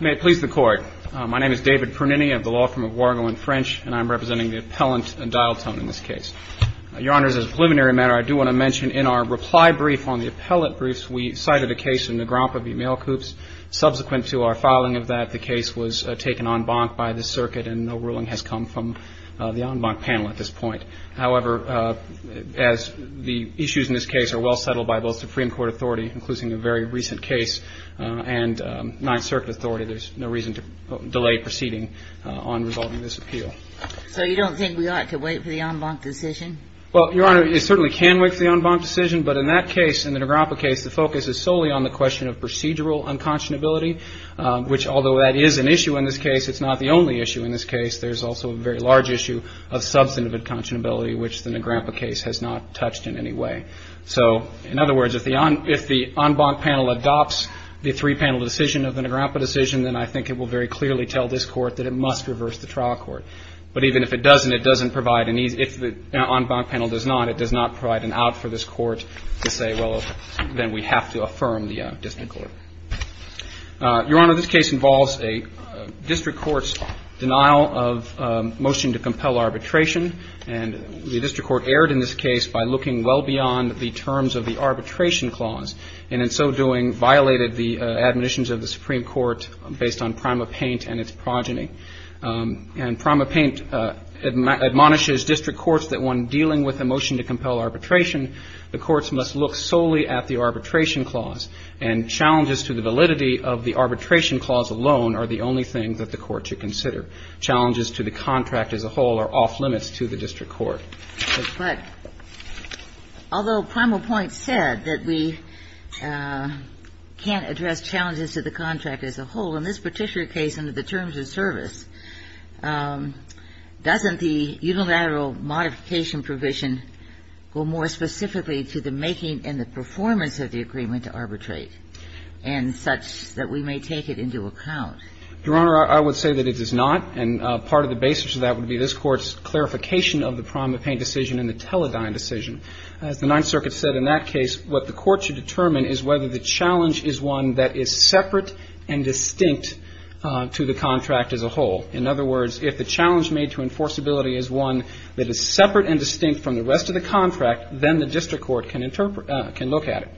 May it please the Court. My name is David Pernini. I have the law firm of Wargo and French, and I'm representing the Appellant and Dialtone in this case. Your Honors, as a preliminary matter, I do want to mention in our reply brief on the appellate briefs, we cited a case in the Grompa v. Mail Coops. Subsequent to our filing of that, the case was taken en banc by the circuit, and no ruling has come from the en banc panel at this point. However, as the issues in this case are well settled by both Supreme Court authority, including a very recent case, and Ninth Circuit authority, there's no reason to delay proceeding on resolving this appeal. So you don't think we ought to wait for the en banc decision? Well, Your Honor, you certainly can wait for the en banc decision, but in that case, in the Nagropa case, the focus is solely on the question of procedural unconscionability, which, although that is an issue in this case, it's not the only issue in this case. There's also a very large issue of substantive unconscionability, which the Nagropa case has not touched in any way. So in other words, if the en banc panel adopts the three-panel decision of the Nagropa decision, then I think it will very clearly tell this Court that it must reverse the trial court. But even if it doesn't, it doesn't provide an easy – if the en banc panel does not, it does not provide an out for this Court to say, well, then we have to affirm the district court. Your Honor, this case involves a district court's denial of motion to compel arbitration. And the district court erred in this case by looking well beyond the terms of the arbitration clause, and in so doing violated the admonitions of the Supreme Court based on Prima Paint and its progeny. And Prima Paint admonishes district courts that when dealing with a motion to compel arbitration, the courts must look solely at the arbitration clause. And challenges to the validity of the arbitration clause alone are the only things that the court should consider. Challenges to the contract as a whole are off-limits to the district court. But although Prima Paint said that we can't address challenges to the contract as a whole, in this particular case under the terms of service, doesn't the unilateral modification provision go more specifically to the making and the performance of the agreement to arbitrate and such that we may take it into account? Your Honor, I would say that it does not. And part of the basis of that would be this Court's clarification of the Prima Paint decision and the Teledyne decision. As the Ninth Circuit said in that case, what the Court should determine is whether the challenge is one that is separate and distinct to the contract as a whole. In other words, if the challenge made to enforceability is one that is separate and distinct from the rest of the contract, then the district court can look at it.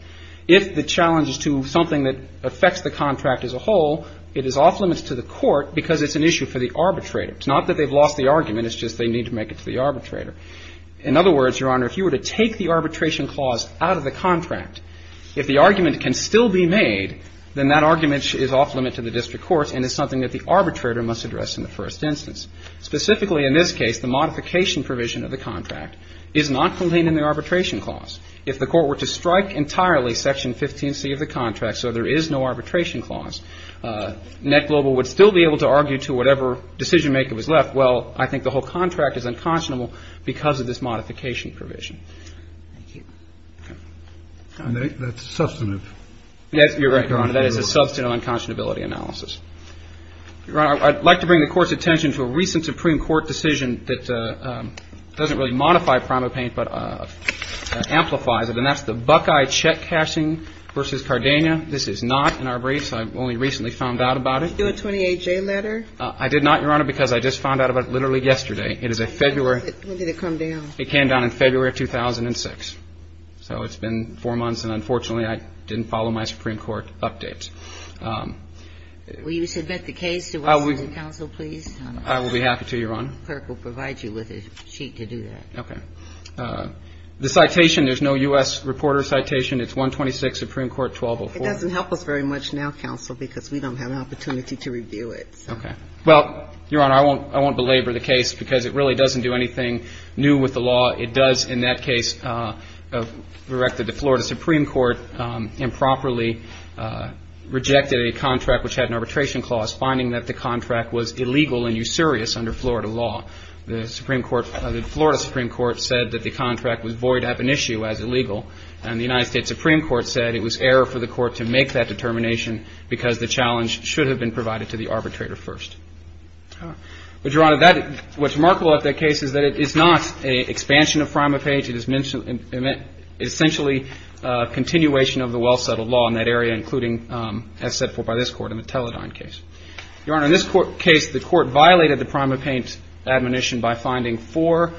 If the challenge is to something that affects the contract as a whole, it is off-limits to the court because it's an issue for the arbitrator. It's not that they've lost the argument. It's just they need to make it to the arbitrator. In other words, Your Honor, if you were to take the arbitration clause out of the contract, if the argument can still be made, then that argument is off-limit to the district court and is something that the arbitrator must address in the first instance. Specifically, in this case, the modification provision of the contract is not contained in the arbitration clause. If the Court were to strike entirely Section 15C of the contract so there is no arbitration clause, Net Global would still be able to argue to whatever decisionmaker was left, well, I think the whole contract is unconscionable because of this modification provision. Thank you. And that's substantive. Yes, Your Honor. That is a substantive unconscionability analysis. Your Honor, I'd like to bring the Court's attention to a recent Supreme Court decision that doesn't really modify PrimaPaint but amplifies it, and that's the Buckeye check cashing versus Cardania. This is not in our briefs. I only recently found out about it. Did you do a 28-J letter? I did not, Your Honor, because I just found out about it literally yesterday. It is a February. When did it come down? It came down in February of 2006. So it's been four months, and unfortunately, I didn't follow my Supreme Court updates. Will you submit the case to us as counsel, please? I will be happy to, Your Honor. The clerk will provide you with a sheet to do that. Okay. The citation, there's no U.S. reporter citation. It's 126 Supreme Court 1204. It doesn't help us very much now, counsel, because we don't have an opportunity to review it. Okay. Well, Your Honor, I won't belabor the case because it really doesn't do anything new with the law. It does, in that case, directed the Florida Supreme Court improperly rejected a contract which had an arbitration clause, finding that the contract was illegal and usurious under Florida law. The Supreme Court, the Florida Supreme Court said that the contract was void ab initio as illegal, and the United States Supreme Court said it was error for the court to make that determination because the challenge should have been provided to the arbitrator first. All right. But, Your Honor, what's remarkable about that case is that it is not an expansion of prima page. It is essentially a continuation of the well-settled law in that area, including as set forth by this Court in the Teledyne case. Your Honor, in this case, the Court violated the prima page admonition by finding four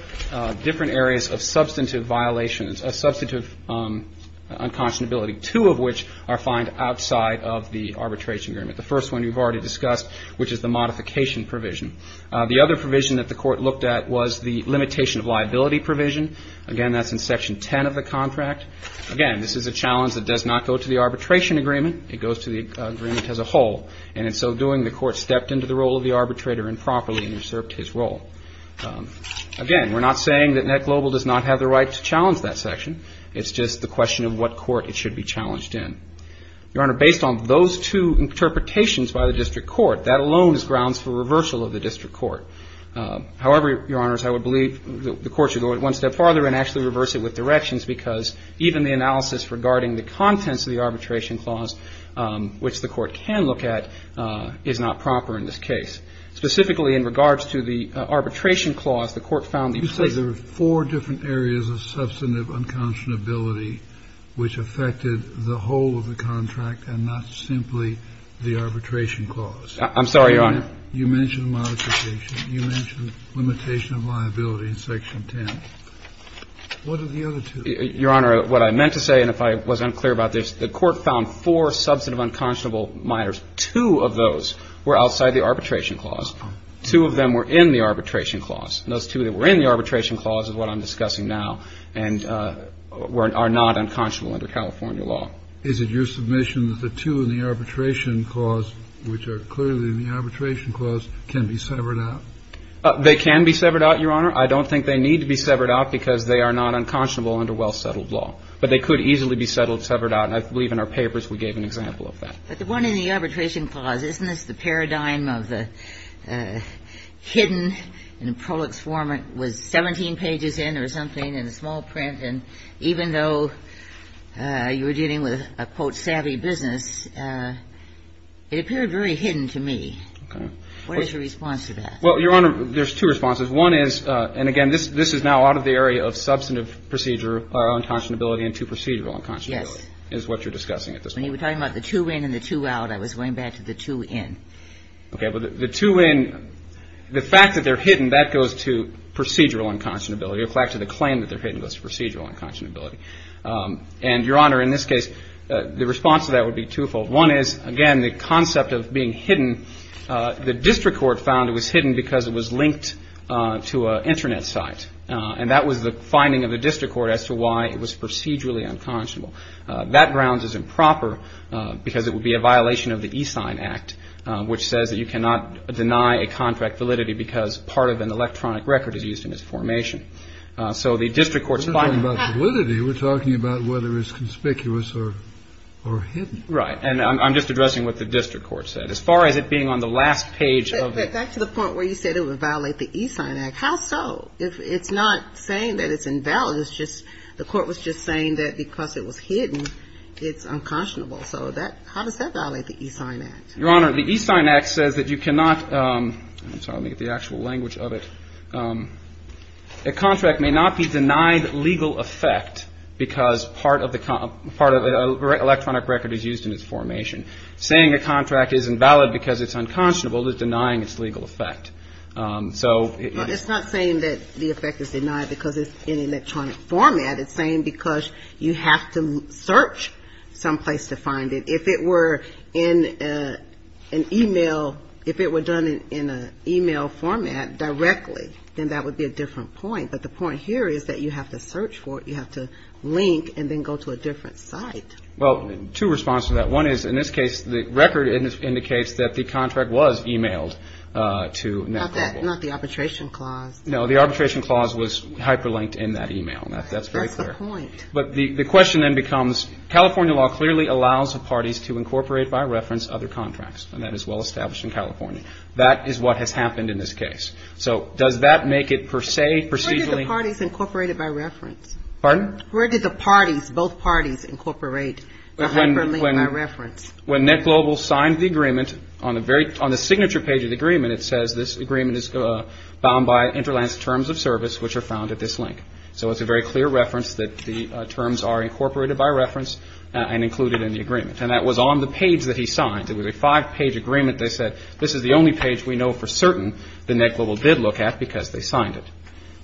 different areas of substantive violations, of substantive unconscionability, two of which are found outside of the arbitration agreement. The first one we've already discussed, which is the modification provision. The other provision that the Court looked at was the limitation of liability provision. Again, that's in Section 10 of the contract. Again, this is a challenge that does not go to the arbitration agreement. It goes to the agreement as a whole. And in so doing, the Court stepped into the role of the arbitrator improperly and usurped his role. Again, we're not saying that NetGlobal does not have the right to challenge that section. It's just the question of what court it should be challenged in. Your Honor, based on those two interpretations by the district court, that alone is grounds for reversal of the district court. However, Your Honors, I would believe the Court should go one step farther and actually reverse it with directions because even the analysis regarding the contents of the arbitration clause, which the Court can look at, is not proper in this case. Specifically in regards to the arbitration clause, the Court found the implicit There were four different areas of substantive unconscionability which affected the whole of the contract and not simply the arbitration clause. I'm sorry, Your Honor. You mentioned modification. You mentioned limitation of liability in Section 10. What are the other two? Your Honor, what I meant to say, and if I was unclear about this, the Court found four substantive unconscionable minors. Two of those were outside the arbitration clause. Two of them were in the arbitration clause. Those two that were in the arbitration clause is what I'm discussing now and are not unconscionable under California law. Is it your submission that the two in the arbitration clause, which are clearly in the arbitration clause, can be severed out? They can be severed out, Your Honor. I don't think they need to be severed out because they are not unconscionable under well-settled law. But they could easily be settled, severed out, and I believe in our papers we gave an example of that. But the one in the arbitration clause, isn't this the paradigm of the hidden in prolix form was 17 pages in or something in a small print, and even though you were dealing with a, quote, savvy business, it appeared very hidden to me. Okay. What is your response to that? Well, Your Honor, there's two responses. One is, and again, this is now out of the area of substantive procedure or unconscionability When you were talking about the two in and the two out, I was going back to the two in. Okay. Well, the two in, the fact that they're hidden, that goes to procedural unconscionability. In fact, the claim that they're hidden goes to procedural unconscionability. And, Your Honor, in this case, the response to that would be twofold. One is, again, the concept of being hidden, the district court found it was hidden because it was linked to an Internet site, and that was the finding of the district court as to why it was procedurally unconscionable. That grounds is improper because it would be a violation of the E-Sign Act, which says that you cannot deny a contract validity because part of an electronic record is used in its formation. So the district court's finding of that. We're not talking about validity. We're talking about whether it's conspicuous or hidden. Right. And I'm just addressing what the district court said. As far as it being on the last page of the act. But back to the point where you said it would violate the E-Sign Act. How so? It's not saying that it's invalid. It's just, the court was just saying that because it was hidden, it's unconscionable. So that, how does that violate the E-Sign Act? Your Honor, the E-Sign Act says that you cannot, I'm sorry, let me get the actual language of it. A contract may not be denied legal effect because part of the electronic record is used in its formation. Saying a contract isn't valid because it's unconscionable is denying its legal effect. It's not saying that the effect is denied because it's in electronic format. It's saying because you have to search some place to find it. If it were in an e-mail, if it were done in an e-mail format directly, then that would be a different point. But the point here is that you have to search for it. You have to link and then go to a different site. Well, two responses to that. One is, in this case, the record indicates that the contract was e-mailed to NetCompo. Not the arbitration clause. No, the arbitration clause was hyperlinked in that e-mail. That's very clear. That's the point. But the question then becomes, California law clearly allows the parties to incorporate by reference other contracts. And that is well established in California. That is what has happened in this case. So does that make it per se procedurally? Where did the parties incorporate it by reference? Pardon? Where did the parties, both parties incorporate the hyperlink by reference? When NetGlobal signed the agreement, on the signature page of the agreement, it says this agreement is bound by Interland's terms of service, which are found at this link. So it's a very clear reference that the terms are incorporated by reference and included in the agreement. And that was on the page that he signed. It was a five-page agreement. They said this is the only page we know for certain that NetGlobal did look at because they signed it.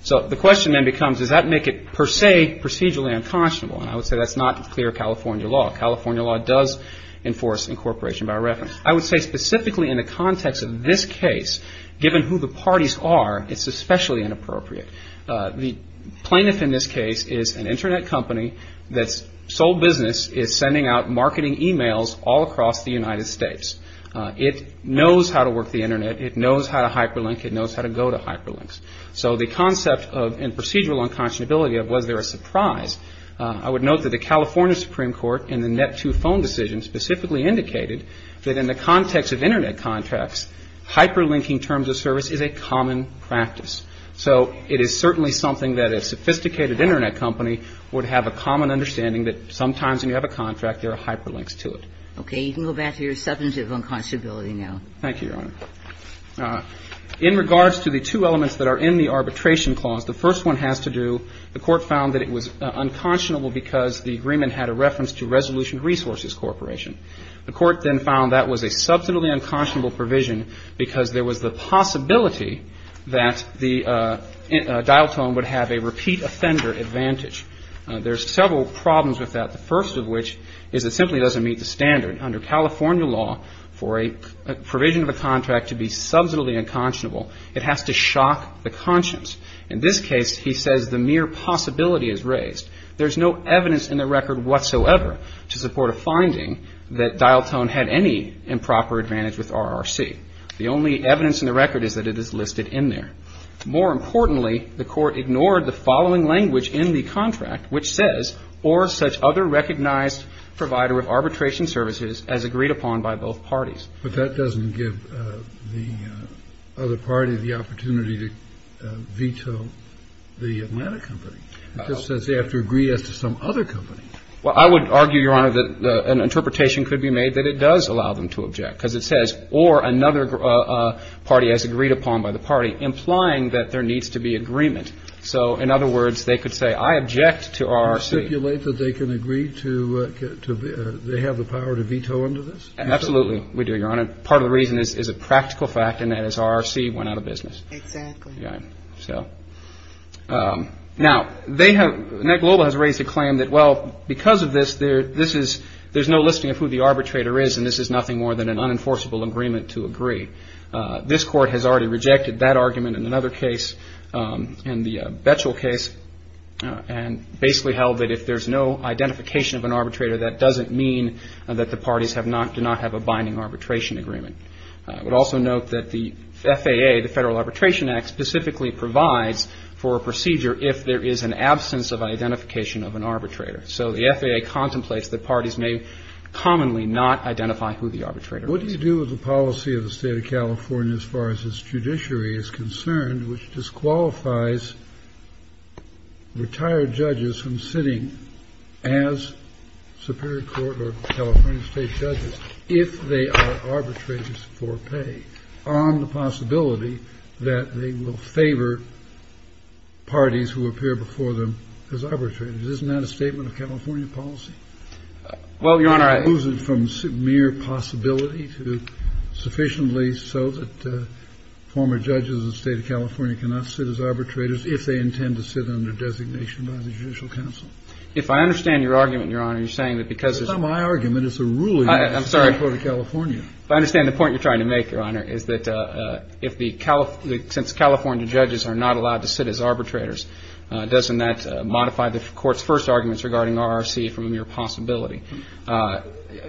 So the question then becomes, does that make it per se procedurally unconscionable? And I would say that's not clear California law. California law does enforce incorporation by reference. I would say specifically in the context of this case, given who the parties are, it's especially inappropriate. The plaintiff in this case is an Internet company that's sold business, is sending out marketing e-mails all across the United States. It knows how to work the Internet. It knows how to hyperlink. It knows how to go to hyperlinks. So the concept of and procedural unconscionability of was there a surprise? I would note that the California Supreme Court in the Net-2 phone decision specifically indicated that in the context of Internet contracts, hyperlinking terms of service is a common practice. So it is certainly something that a sophisticated Internet company would have a common understanding that sometimes when you have a contract, there are hyperlinks to it. Okay. You can go back to your substantive unconscionability now. Thank you, Your Honor. In regards to the two elements that are in the arbitration clause, the first one has to do, the Court found that it was unconscionable because the agreement had a reference to Resolution Resources Corporation. The Court then found that was a substantively unconscionable provision because there was the possibility that the dial tone would have a repeat offender advantage. There's several problems with that, the first of which is it simply doesn't meet the standard. Under California law, for a provision of a contract to be substantively unconscionable, it has to shock the conscience. In this case, he says the mere possibility is raised. There's no evidence in the record whatsoever to support a finding that dial tone had any improper advantage with RRC. The only evidence in the record is that it is listed in there. More importantly, the Court ignored the following language in the contract which says, or such other recognized provider of arbitration services as agreed upon by both parties. But that doesn't give the other party the opportunity to veto the Atlanta company. It just says they have to agree as to some other company. Well, I would argue, Your Honor, that an interpretation could be made that it does allow them to object because it says, or another party as agreed upon by the party, implying that there needs to be agreement. So, in other words, they could say, I object to RRC. Do you stipulate that they can agree to, they have the power to veto under this? Absolutely, we do, Your Honor. Part of the reason is a practical fact, and that is RRC went out of business. Exactly. Right. So, now, they have, NET Global has raised a claim that, well, because of this, this is, there's no listing of who the arbitrator is, and this is nothing more than an unenforceable agreement to agree. This Court has already rejected that argument in another case, in the Betchell case, and basically held that if there's no identification of an arbitrator, that doesn't mean that the parties have not, do not have a binding arbitration agreement. I would also note that the FAA, the Federal Arbitration Act, specifically provides for a procedure if there is an absence of identification of an arbitrator. So, the FAA contemplates that parties may commonly not identify who the arbitrator is. Now, what do you do with the policy of the State of California as far as its judiciary is concerned, which disqualifies retired judges from sitting as superior court or California State judges if they are arbitrators for pay, on the possibility that they will favor parties who appear before them as arbitrators? Isn't that a statement of California policy? Well, Your Honor, I. Is it from mere possibility to sufficiently so that former judges of the State of California cannot sit as arbitrators if they intend to sit under designation by the Judicial Council? If I understand your argument, Your Honor, you're saying that because. It's not my argument. It's the ruling of the State of California. I'm sorry. If I understand the point you're trying to make, Your Honor, is that if the California, since California judges are not allowed to sit as arbitrators, doesn't that modify the Court's first arguments regarding RRC from a mere possibility?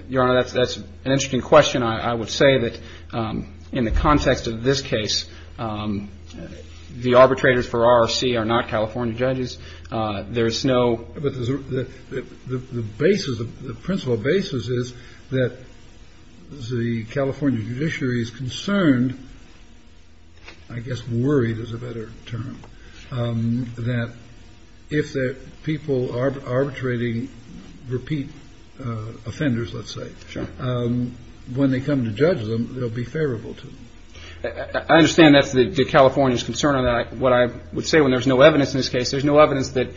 Your Honor, that's an interesting question. I would say that in the context of this case, the arbitrators for RRC are not California judges. There is no. But the basis, the principle basis is that the California judiciary is concerned, I guess worried is a better term, that if the people arbitrating repeat offenders, let's say. Sure. When they come to judge them, they'll be favorable to them. I understand that's the California's concern on that. What I would say when there's no evidence in this case, there's no evidence that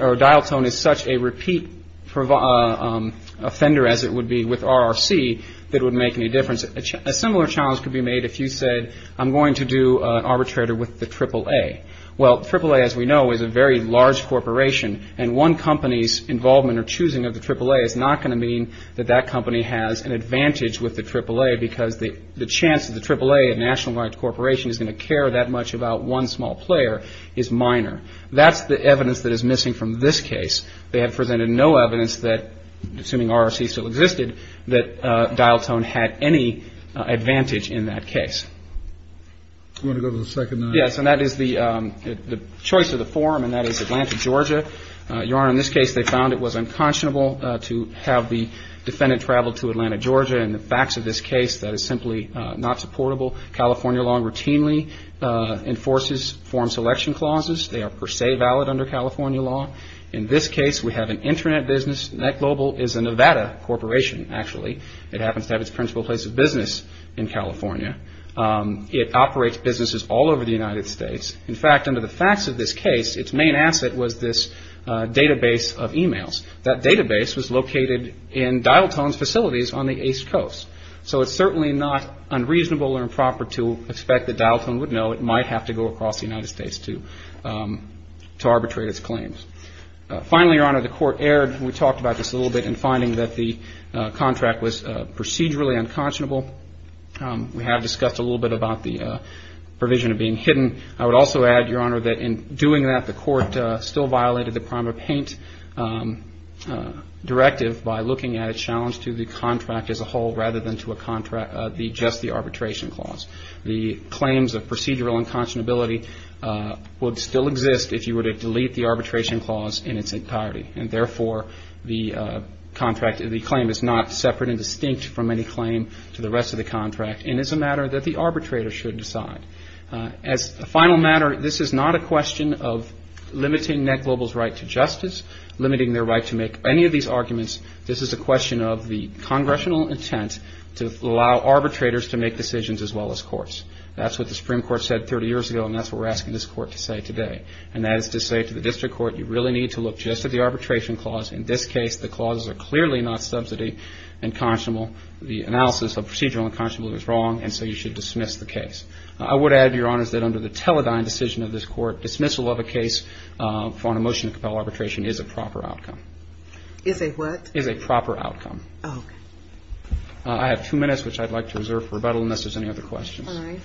or dial tone is such a repeat offender as it would be with RRC that would make any difference. A similar challenge could be made if you said I'm going to do an arbitrator with the triple A. Well, triple A, as we know, is a very large corporation. And one company's involvement or choosing of the triple A is not going to mean that that company has an advantage with the triple A because the chance of the triple A, a nationalized corporation, is going to care that much about one small player is minor. That's the evidence that is missing from this case. They have presented no evidence that, assuming RRC still existed, that dial tone had any advantage in that case. I'm going to go to the second line. Yes, and that is the choice of the form, and that is Atlanta, Georgia. Your Honor, in this case, they found it was unconscionable to have the defendant travel to Atlanta, Georgia. And the facts of this case, that is simply not supportable. California law routinely enforces form selection clauses. They are per se valid under California law. In this case, we have an Internet business. NetGlobal is a Nevada corporation, actually. It happens to have its principal place of business in California. It operates businesses all over the United States. In fact, under the facts of this case, its main asset was this database of e-mails. That database was located in Dial Tone's facilities on the East Coast. So it's certainly not unreasonable or improper to expect that Dial Tone would know what might have to go across the United States to arbitrate its claims. Finally, Your Honor, the court erred, and we talked about this a little bit, in finding that the contract was procedurally unconscionable. We have discussed a little bit about the provision of being hidden. I would also add, Your Honor, that in doing that, the court still violated the Primer-Paint directive by looking at a challenge to the contract as a whole rather than to just the arbitration clause. The claims of procedural unconscionability would still exist if you were to delete the arbitration clause in its entirety, and therefore the claim is not separate and distinct from any claim to the rest of the contract, and it's a matter that the arbitrator should decide. As a final matter, this is not a question of limiting NetGlobal's right to justice, limiting their right to make any of these arguments. This is a question of the congressional intent to allow arbitrators to make decisions as well as courts. That's what the Supreme Court said 30 years ago, and that's what we're asking this court to say today, and that is to say to the district court, you really need to look just at the arbitration clause. In this case, the clauses are clearly not subsidy and unconscionable. The analysis of procedural unconscionability is wrong, and so you should dismiss the case. I would add, Your Honor, that under the Teledyne decision of this court, dismissal of a case on a motion to compel arbitration is a proper outcome. Is a what? Is a proper outcome. Oh, okay. I have two minutes, which I'd like to reserve for rebuttal unless there's any other questions. All right.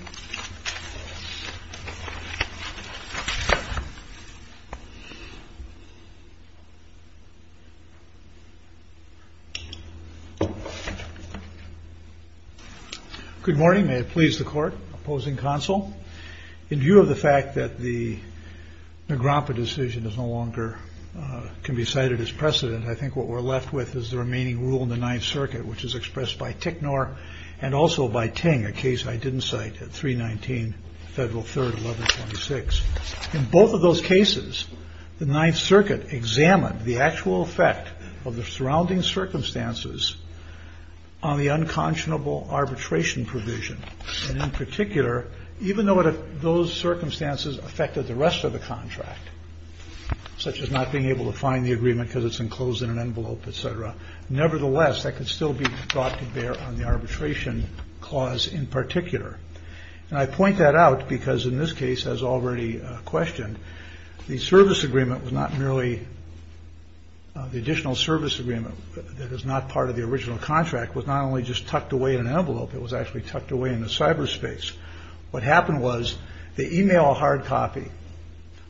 Good morning. May it please the Court, opposing counsel, In view of the fact that the Nagrampa decision is no longer can be cited as precedent, I think what we're left with is the remaining rule in the Ninth Circuit, which is expressed by Ticknor and also by Ting, a case I didn't cite, at 319 Federal 3rd, 1126. In both of those cases, the Ninth Circuit examined the actual effect of the surrounding circumstances on the unconscionable arbitration provision. And in particular, even though those circumstances affected the rest of the contract, such as not being able to find the agreement because it's enclosed in an envelope, et cetera, nevertheless, that could still be thought to bear on the arbitration clause in particular. And I point that out because in this case, as already questioned, the service agreement was not merely the additional service agreement. That is not part of the original contract was not only just tucked away in an envelope. It was actually tucked away in the cyberspace. What happened was they email a hard copy.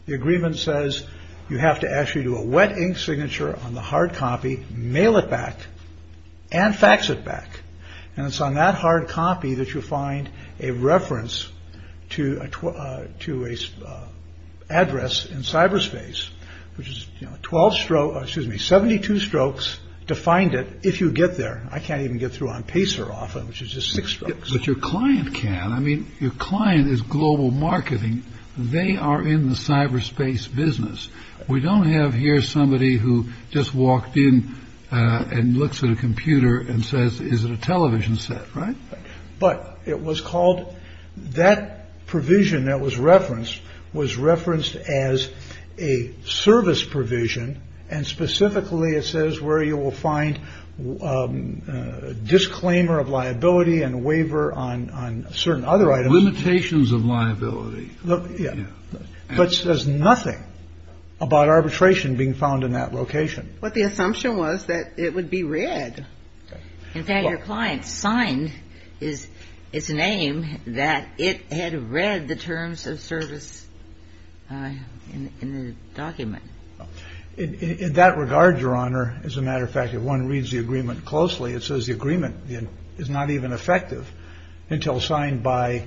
The agreement says you have to actually do a wet ink signature on the hard copy, mail it back and fax it back. And it's on that hard copy that you find a reference to a to a address in cyberspace, which is 12 stroke. Excuse me, 72 strokes to find it. If you get there. I can't even get through on piece or often, which is just six. But your client can. I mean, your client is global marketing. They are in the cyberspace business. We don't have here somebody who just walked in and looks at a computer and says, is it a television set? Right. But it was called that provision that was referenced was referenced as a service provision. And specifically, it says where you will find a disclaimer of liability and waiver on on certain other items. Limitations of liability. Yeah. But says nothing about arbitration being found in that location. But the assumption was that it would be read. In fact, your client signed is its name, that it had read the terms of service in the document. In that regard, Your Honor, as a matter of fact, if one reads the agreement closely, it says the agreement is not even effective until signed by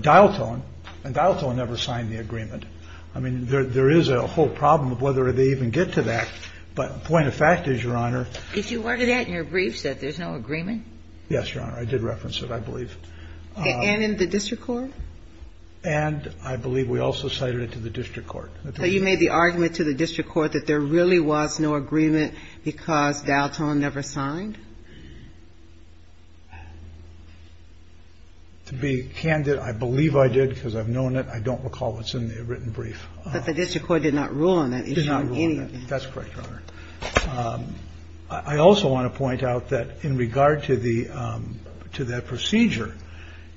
dial tone and dial tone never signed the agreement. I mean, there is a whole problem of whether they even get to that. But point of fact is, Your Honor. Did you order that in your briefs, that there's no agreement? Yes, Your Honor. I did reference it, I believe. And in the district court? And I believe we also cited it to the district court. So you made the argument to the district court that there really was no agreement because dial tone never signed? To be candid, I believe I did because I've known it. I don't recall what's in the written brief. But the district court did not rule on that. Did not rule on that. That's correct, Your Honor. I also want to point out that in regard to the to that procedure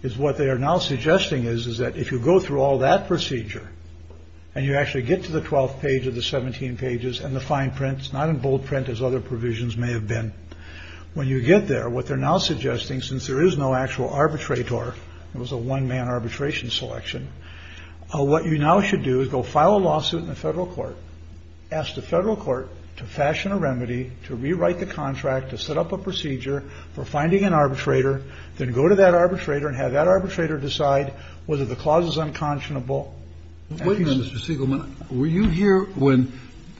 is what they are now suggesting is, is that if you go through all that procedure and you actually get to the 12th page of the 17 pages and the fine prints, not in bold print, as other provisions may have been. When you get there, what they're now suggesting, since there is no actual arbitrator, it was a one man arbitration selection. What you now should do is go file a lawsuit in the federal court, ask the federal court to fashion a remedy, to rewrite the contract, to set up a procedure for finding an arbitrator, then go to that arbitrator and have that arbitrator decide whether the clause is unconscionable. Wait a minute, Mr. Siegelman. Were you here when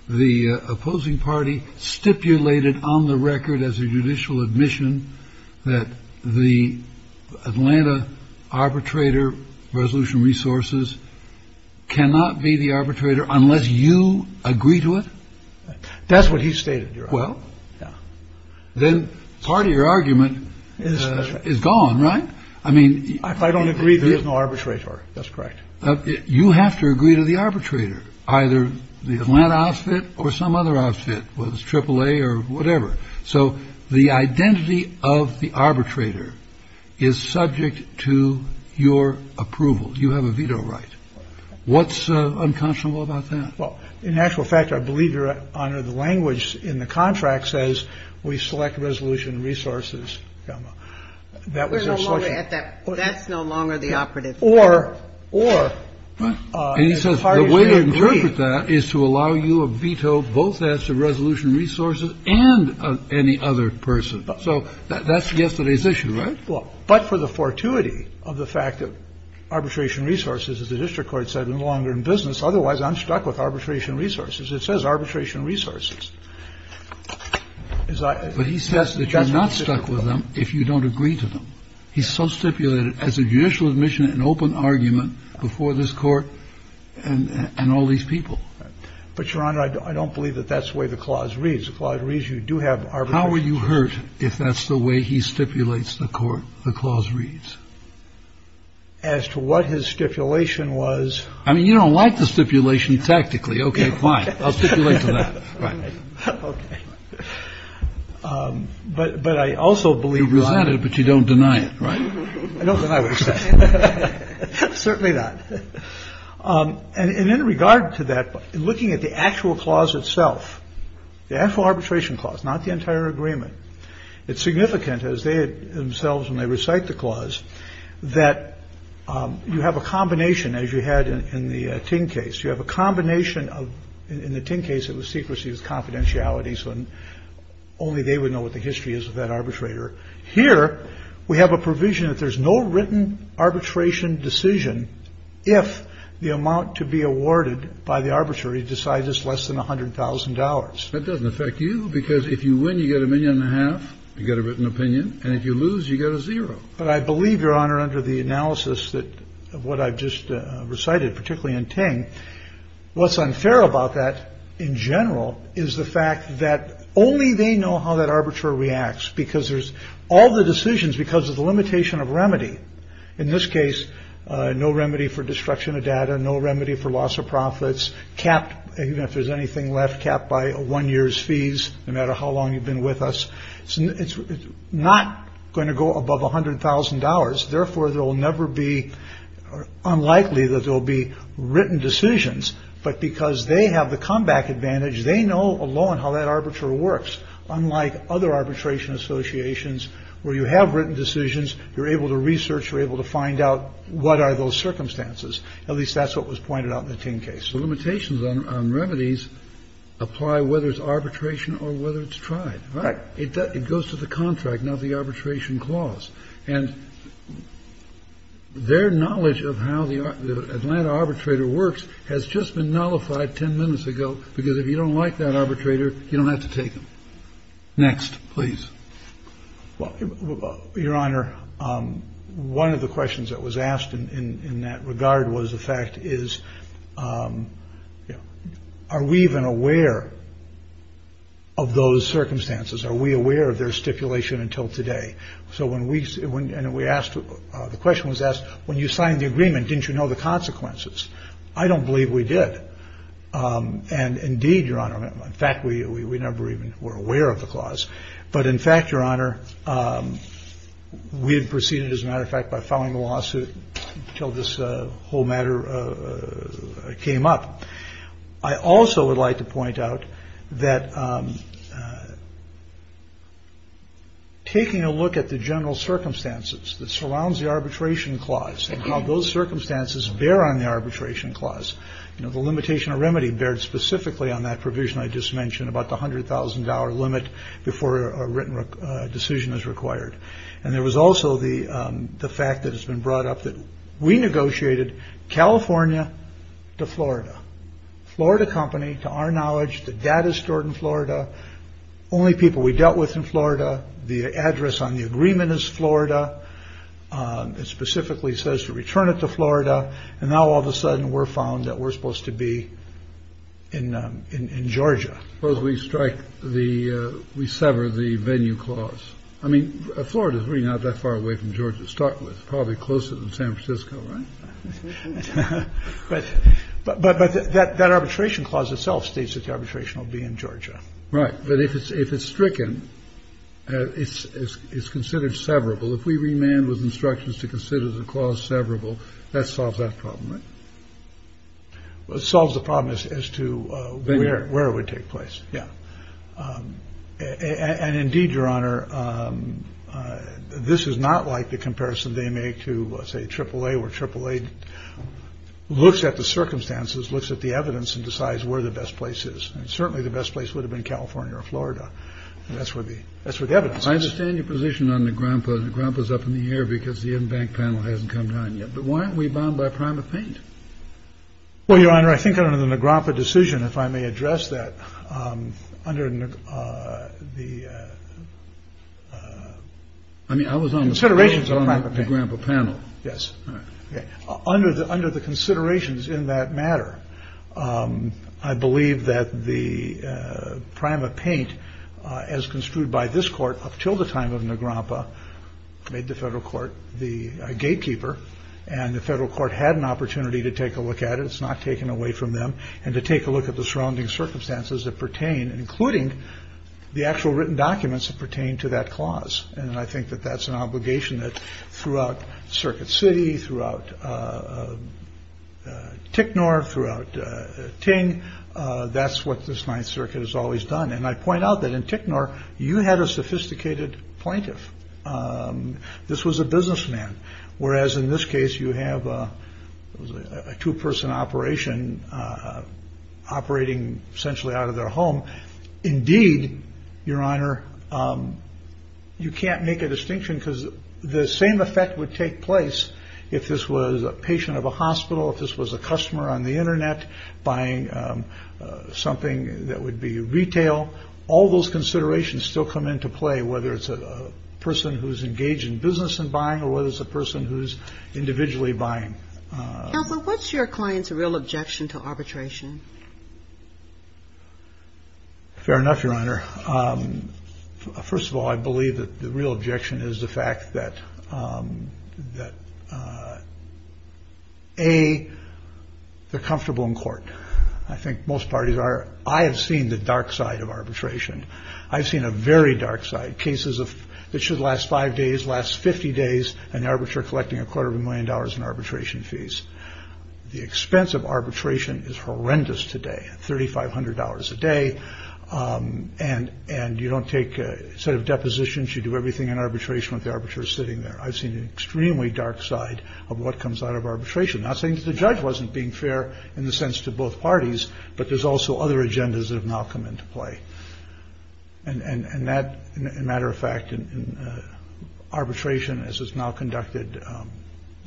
the opposing party stipulated on the record as a judicial admission that the Atlanta arbitrator resolution resources cannot be the arbitrator unless you agree to it? That's what he stated, Your Honor. Well, then part of your argument is gone, right? I mean, if I don't agree, there is no arbitrator. That's correct. You have to agree to the arbitrator, either the Atlanta outfit or some other outfit, whether it's AAA or whatever. So the identity of the arbitrator is subject to your approval. You have a veto right. What's unconscionable about that? Well, in actual fact, I believe, Your Honor, the language in the contract says we select resolution resources. That was our selection. We're no longer at that. That's no longer the operative. Or, or, as far as we agree. And he says the way to interpret that is to allow you a veto both as to resolution resources and of any other person. So that's yesterday's issue, right? Well, but for the fortuity of the fact that arbitration resources, as the district court said, are no longer in business. Otherwise, I'm stuck with arbitration resources. It says arbitration resources. But he says that you're not stuck with them if you don't agree to them. He's so stipulated as a judicial admission, an open argument before this court and all these people. But, Your Honor, I don't believe that that's the way the clause reads. The clause reads you do have arbitration. How are you hurt if that's the way he stipulates the court? The clause reads. As to what his stipulation was. I mean, you don't like the stipulation tactically. Okay, fine. I'll stipulate to that. Right. Okay. But but I also believe. But you don't deny it. Right. I don't. Certainly not. And in regard to that, looking at the actual clause itself, the actual arbitration clause, not the entire agreement. It's significant as they themselves when they recite the clause that you have a combination, as you had in the tin case. You have a combination of, in the tin case, it was secrecy with confidentiality. So only they would know what the history is of that arbitrator. Here we have a provision that there's no written arbitration decision if the amount to be awarded by the arbitrary decides it's less than $100,000. That doesn't affect you because if you win, you get a million and a half. You get a written opinion. And if you lose, you get a zero. But I believe, Your Honor, under the analysis that what I've just recited, particularly in Ting, what's unfair about that in general is the fact that only they know how that arbitrator reacts because there's all the decisions because of the limitation of remedy. In this case, no remedy for destruction of data, no remedy for loss of profits capped. Even if there's anything left capped by one year's fees, no matter how long you've been with us. So it's not going to go above $100,000. Therefore, there will never be unlikely that there'll be written decisions. But because they have the comeback advantage, they know alone how that arbitrator works. Unlike other arbitration associations where you have written decisions, you're able to research, you're able to find out what are those circumstances. At least that's what was pointed out in the tin case. The limitations on remedies apply whether it's arbitration or whether it's tried. Right. It goes to the contract, not the arbitration clause. And their knowledge of how the Atlanta arbitrator works has just been nullified 10 minutes ago, because if you don't like that arbitrator, you don't have to take them. Next, please. Well, Your Honor, one of the questions that was asked in that regard was the fact is that, you know, are we even aware of those circumstances? Are we aware of their stipulation until today? So when we asked, the question was asked, when you signed the agreement, didn't you know the consequences? I don't believe we did. And indeed, Your Honor, in fact, we never even were aware of the clause. But in fact, Your Honor, we had proceeded, as a matter of fact, by filing a lawsuit until this whole matter came up. I also would like to point out that. Taking a look at the general circumstances that surrounds the arbitration clause and how those circumstances bear on the arbitration clause, you know, the limitation of remedy bared specifically on that provision I just mentioned about the hundred thousand dollar limit before a written decision is required. And there was also the the fact that has been brought up that we negotiated California to Florida, Florida company, to our knowledge, the data stored in Florida, only people we dealt with in Florida. The address on the agreement is Florida. It specifically says to return it to Florida. And now all of a sudden we're found that we're supposed to be in in Georgia. Suppose we strike the we sever the venue clause. I mean, Florida is really not that far away from Georgia to start with. Probably closer than San Francisco. Right. But but but that that arbitration clause itself states that the arbitration will be in Georgia. Right. But if it's if it's stricken, it's it's considered severable. If we remand with instructions to consider the clause severable, that solves that problem. It solves the problem as to where where it would take place. Yeah. And indeed, Your Honor, this is not like the comparison they make to, say, Triple A or Triple A looks at the circumstances, looks at the evidence and decides where the best place is. Certainly the best place would have been California or Florida. That's where the that's where the evidence. I understand your position on the grandpa. Grandpa's up in the air because the in-bank panel hasn't come down yet. But why aren't we bound by prime of paint? Well, Your Honor, I think under the Nagropa decision, if I may address that under the I mean, I was on the set of ratings on my grandpa panel. Yes. Under the under the considerations in that matter. I believe that the prime of paint, as construed by this court up till the time of Nagropa, made the federal court the gatekeeper and the federal court had an opportunity to take a look at it. It's not taken away from them. And to take a look at the surrounding circumstances that pertain, including the actual written documents that pertain to that clause. And I think that that's an obligation that throughout Circuit City, throughout Ticknor, throughout Ting. That's what this Ninth Circuit has always done. And I point out that in Ticknor, you had a sophisticated plaintiff. This was a businessman. Whereas in this case, you have a two person operation operating essentially out of their home. Indeed, Your Honor, you can't make a distinction because the same effect would take place if this was a patient of a hospital. This was a customer on the Internet buying something that would be retail. All those considerations still come into play, whether it's a person who's engaged in business and buying or whether it's a person who's individually buying. What's your client's real objection to arbitration? Fair enough, Your Honor. First of all, I believe that the real objection is the fact that that a they're comfortable in court. I think most parties are. I have seen the dark side of arbitration. I've seen a very dark side cases of that should last five days, last 50 days. An arbiter collecting a quarter of a million dollars in arbitration fees. The expense of arbitration is horrendous today. Thirty five hundred dollars a day. And and you don't take a set of depositions. You do everything in arbitration with the arbiters sitting there. I've seen an extremely dark side of what comes out of arbitration. I think the judge wasn't being fair in the sense to both parties. But there's also other agendas that have now come into play. And that, in matter of fact, in arbitration, as it's now conducted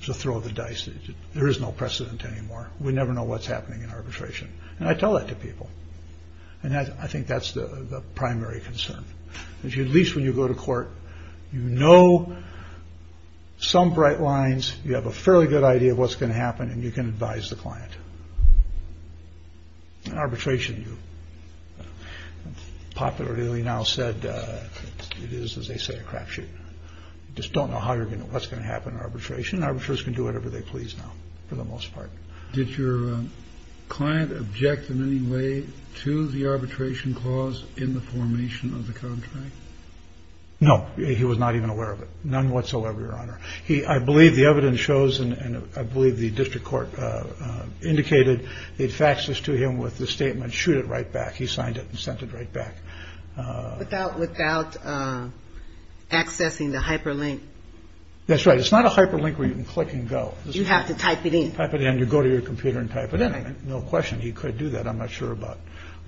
to throw the dice, there is no precedent anymore. We never know what's happening in arbitration. And I tell that to people. And I think that's the primary concern. At least when you go to court, you know some bright lines. You have a fairly good idea of what's going to happen and you can advise the client. And arbitration, you popularly now said it is, as they say, a crapshoot. Just don't know how you're going to what's going to happen. Arbitration arbiters can do whatever they please. Now, for the most part, did your client object in any way to the arbitration clause in the formation of the contract? No, he was not even aware of it. None whatsoever. Your honor. He I believe the evidence shows and I believe the district court indicated it faxes to him with the statement. Shoot it right back. He signed it and sent it right back without without accessing the hyperlink. That's right. It's not a hyperlink where you can click and go. You have to type it in, type it in. You go to your computer and type it in. No question. You could do that. I'm not sure about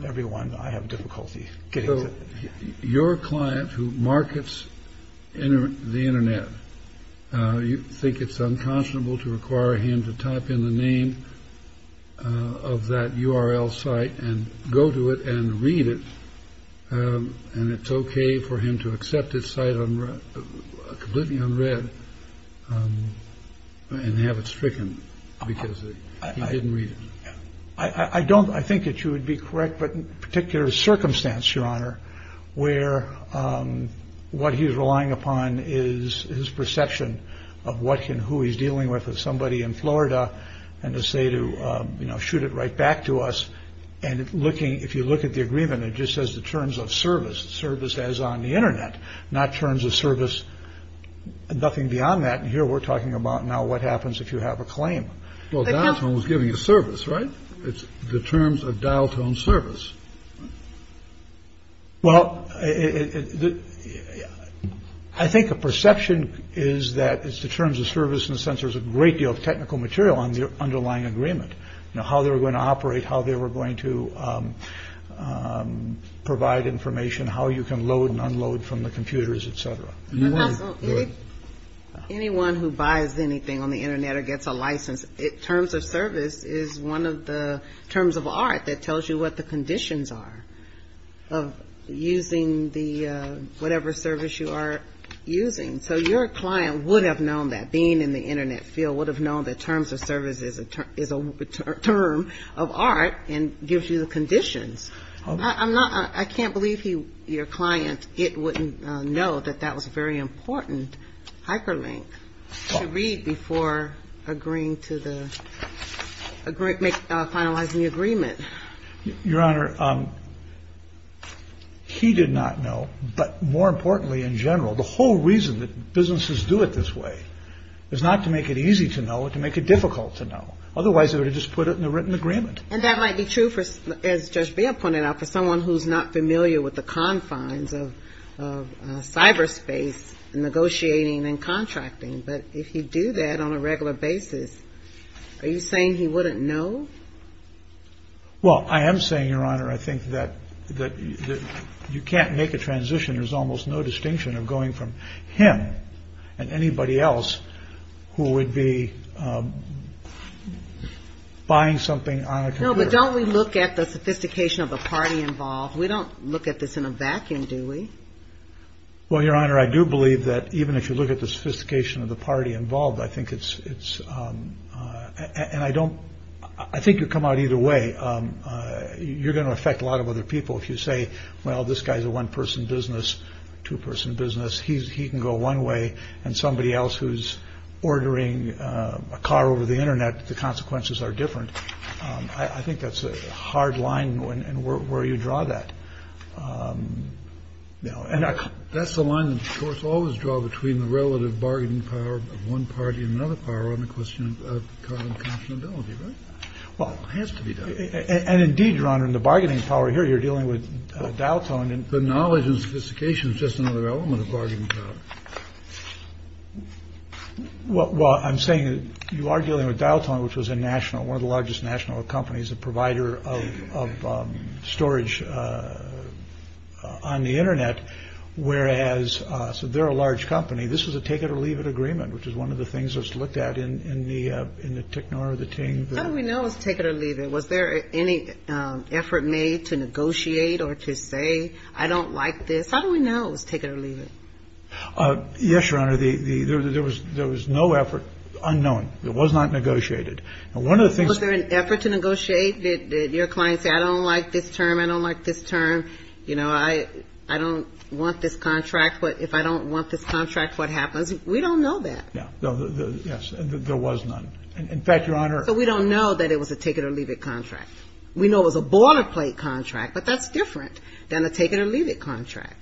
everyone. I have difficulty getting your client who markets in the Internet. You think it's unconscionable to require him to type in the name of that URL site and go to it and read it. And it's OK for him to accept his site on completely unread and have it stricken because I didn't read it. I don't I think that you would be correct. But in particular circumstance, your honor, where what he's relying upon is his perception of what can who he's dealing with, if somebody in Florida and to say to shoot it right back to us and looking if you look at the agreement, it just says the terms of service service as on the Internet, not terms of service. Nothing beyond that. And here we're talking about now what happens if you have a claim? Well, that's what was giving a service, right? It's the terms of dial tone service. Well, I think a perception is that it's the terms of service and sensors, a great deal of technical material on the underlying agreement. Now, how they were going to operate, how they were going to provide information, how you can load and unload from the computers, et cetera. You know, anyone who buys anything on the Internet or gets a license, it terms of service is one of the terms of art that tells you what the conditions are of using the whatever service you are using. So your client would have known that being in the Internet field would have known that terms of services is a term of art and gives you the conditions. I'm not I can't believe he your client. It wouldn't know that that was a very important hyperlink to read before agreeing to the agreement, finalizing the agreement. Your Honor, he did not know. But more importantly, in general, the whole reason that businesses do it this way is not to make it easy to know, to make it difficult to know. Otherwise, they would have just put it in a written agreement. And that might be true for as just being pointed out for someone who's not familiar with the confines of cyberspace and negotiating and contracting. But if you do that on a regular basis, are you saying he wouldn't know? Well, I am saying, Your Honor, I think that that you can't make a transition. And there's almost no distinction of going from him and anybody else who would be buying something. But don't we look at the sophistication of the party involved? We don't look at this in a vacuum, do we? Well, Your Honor, I do believe that even if you look at the sophistication of the party involved, I think it's it's and I don't I think you come out either way. You're going to affect a lot of other people if you say, well, this guy's a one person business, two person business. He's he can go one way. And somebody else who's ordering a car over the Internet. The consequences are different. I think that's a hard line and where you draw that now. And that's the line that always draw between the relative bargaining power of one party and another power on the question of confidentiality. Well, it has to be. And indeed, Ron, in the bargaining power here, you're dealing with dial tone and the knowledge and sophistication. Just another element of bargaining power. Well, I'm saying you are dealing with dial tone, which was a national one of the largest national companies, a provider of storage on the Internet. Whereas so they're a large company. This is a take it or leave it agreement, which is one of the things that's looked at in the in the technology team that we know is take it or leave it. Was there any effort made to negotiate or to say, I don't like this? How do we know it was take it or leave it? Yes, your honor. The there was there was no effort unknown. It was not negotiated. And one of the things was there an effort to negotiate that your clients say, I don't like this term. I don't like this term. You know, I I don't want this contract. But if I don't want this contract, what happens? We don't know that. Yeah. Yes. There was none. In fact, your honor. So we don't know that it was a take it or leave it contract. We know it was a boilerplate contract, but that's different than a take it or leave it contract.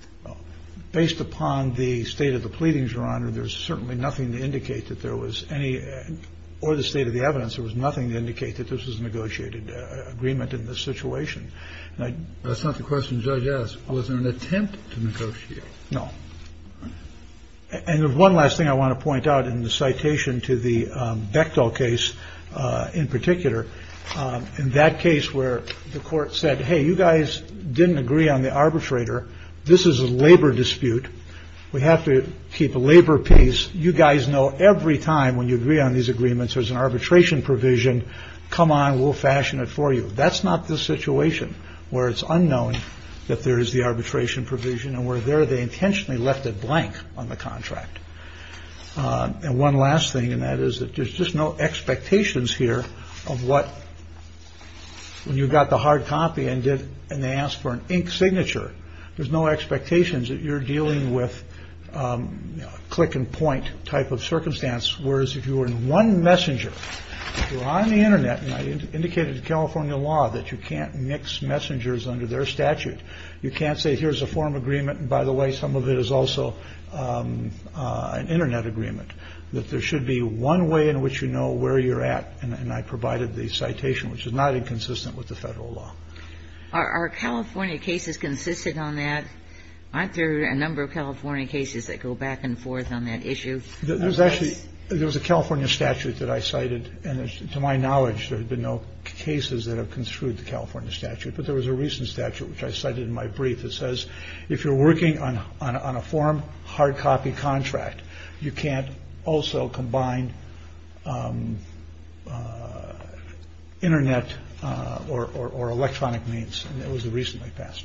Based upon the state of the pleadings, your honor, there's certainly nothing to indicate that there was any or the state of the evidence. There was nothing to indicate that this was a negotiated agreement in this situation. And that's not the question. Yes. Was there an attempt to negotiate? No. And one last thing I want to point out in the citation to the Bechtel case in particular, in that case where the court said, hey, you guys didn't agree on the arbitrator. This is a labor dispute. We have to keep a labor piece. You guys know every time when you agree on these agreements, there's an arbitration provision. Come on, we'll fashion it for you. That's not the situation where it's unknown that there is the arbitration provision and we're there. They intentionally left it blank on the contract. And one last thing. And that is that there's just no expectations here of what you got the hard copy and did. And they asked for an ink signature. There's no expectations that you're dealing with click and point type of circumstance. I can see from the lawsuit recommendation. But we cannot here if you are in one agreement with this. Whereas if you were in one messenger on the Internet and I indicated California law that you can't mix messengers under their statute. You can't say here's a form agreement, by the way, some of it is also an Internet agreement that there should be one way in which you know where you're at. And I provided the citation, which is not inconsistent with the federal law. Are California cases consistent on that? Aren't there a number of California cases that go back and forth on that issue? There's actually there was a California statute that I cited. And to my knowledge, there have been no cases that have construed the California statute. But there was a recent statute which I cited in my brief that says if you're working on on a form hard copy contract, you can't also combine Internet or electronic means. And it was the recently passed.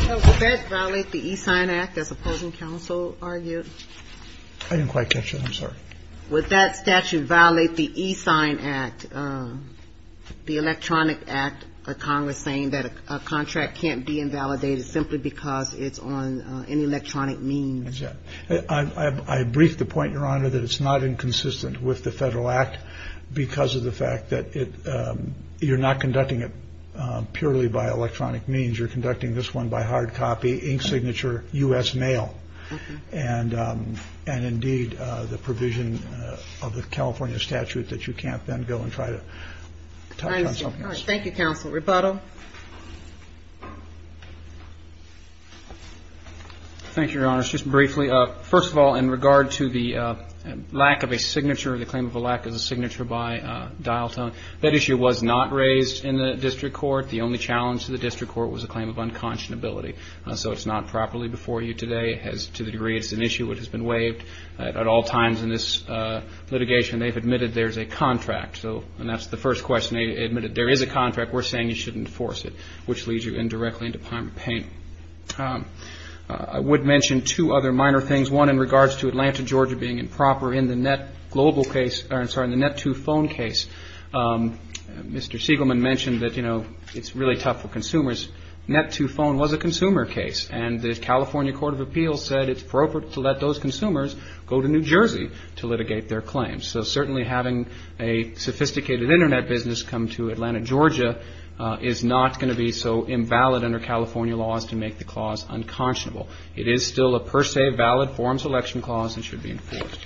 So would that violate the E-Sign Act as opposing counsel argued? I didn't quite catch it. I'm sorry. Would that statute violate the E-Sign Act, the electronic act or Congress saying that a contract can't be invalidated simply because it's on an electronic means? Yeah, I briefed the point, Your Honor, that it's not inconsistent with the federal act because of the fact that you're not conducting it purely by electronic means. You're conducting this one by hard copy ink signature U.S. Thank you, Counsel. Rebuttal. Thank you, Your Honor. Just briefly, first of all, in regard to the lack of a signature, the claim of a lack of a signature by dial tone, that issue was not raised in the district court. The only challenge to the district court was a claim of unconscionability. So it's not properly before you today has to the degree. It's an issue that has been waived at all times in this litigation. They've admitted there's a contract. So and that's the first question. They admitted there is a contract. We're saying you shouldn't force it, which leads you indirectly into payment pain. I would mention two other minor things. One in regards to Atlanta, Georgia, being improper in the net global case, or I'm sorry, in the net to phone case. Mr. Segelman mentioned that, you know, it's really tough for consumers. Net to phone was a consumer case, and the California Court of Appeals said it's appropriate to let those consumers go to New Jersey to litigate their claims. So certainly having a sophisticated internet business come to Atlanta, Georgia is not going to be so invalid under California laws to make the clause unconscionable. It is still a per se valid form selection clause and should be enforced.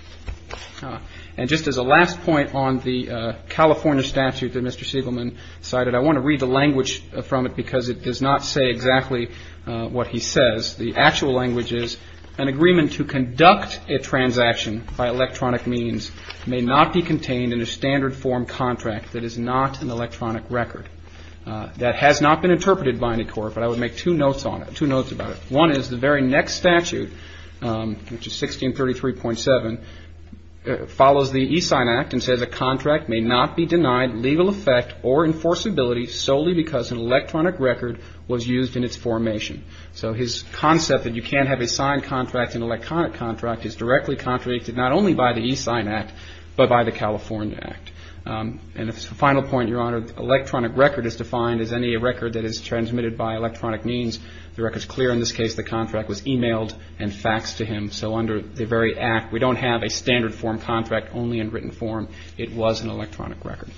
And just as a last point on the California statute that Mr. Segelman cited, I want to read the language from it because it does not say exactly what he says. The actual language is an agreement to conduct a transaction by electronic means may not be contained in a standard form contract that is not an electronic record. That has not been interpreted by any court, but I would make two notes on it, two notes about it. One is the very next statute, which is 1633.7, follows the e-sign act and says a contract may not be denied legal effect or enforceability solely because an electronic record was used in its formation. So his concept that you can't have a signed contract, an electronic contract is directly contradicted not only by the e-sign act, but by the California act. And the final point, Your Honor, electronic record is defined as any record that is transmitted by electronic means. The record is clear in this case, the contract was emailed and faxed to him. So under the very act, we don't have a standard form contract only in written form. It was an electronic record.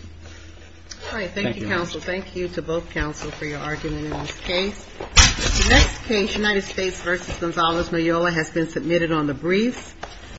All right. Thank you, counsel. Thank you to both counsel for your argument in this case. United States versus Gonzalez. Mayola has been submitted on the brief.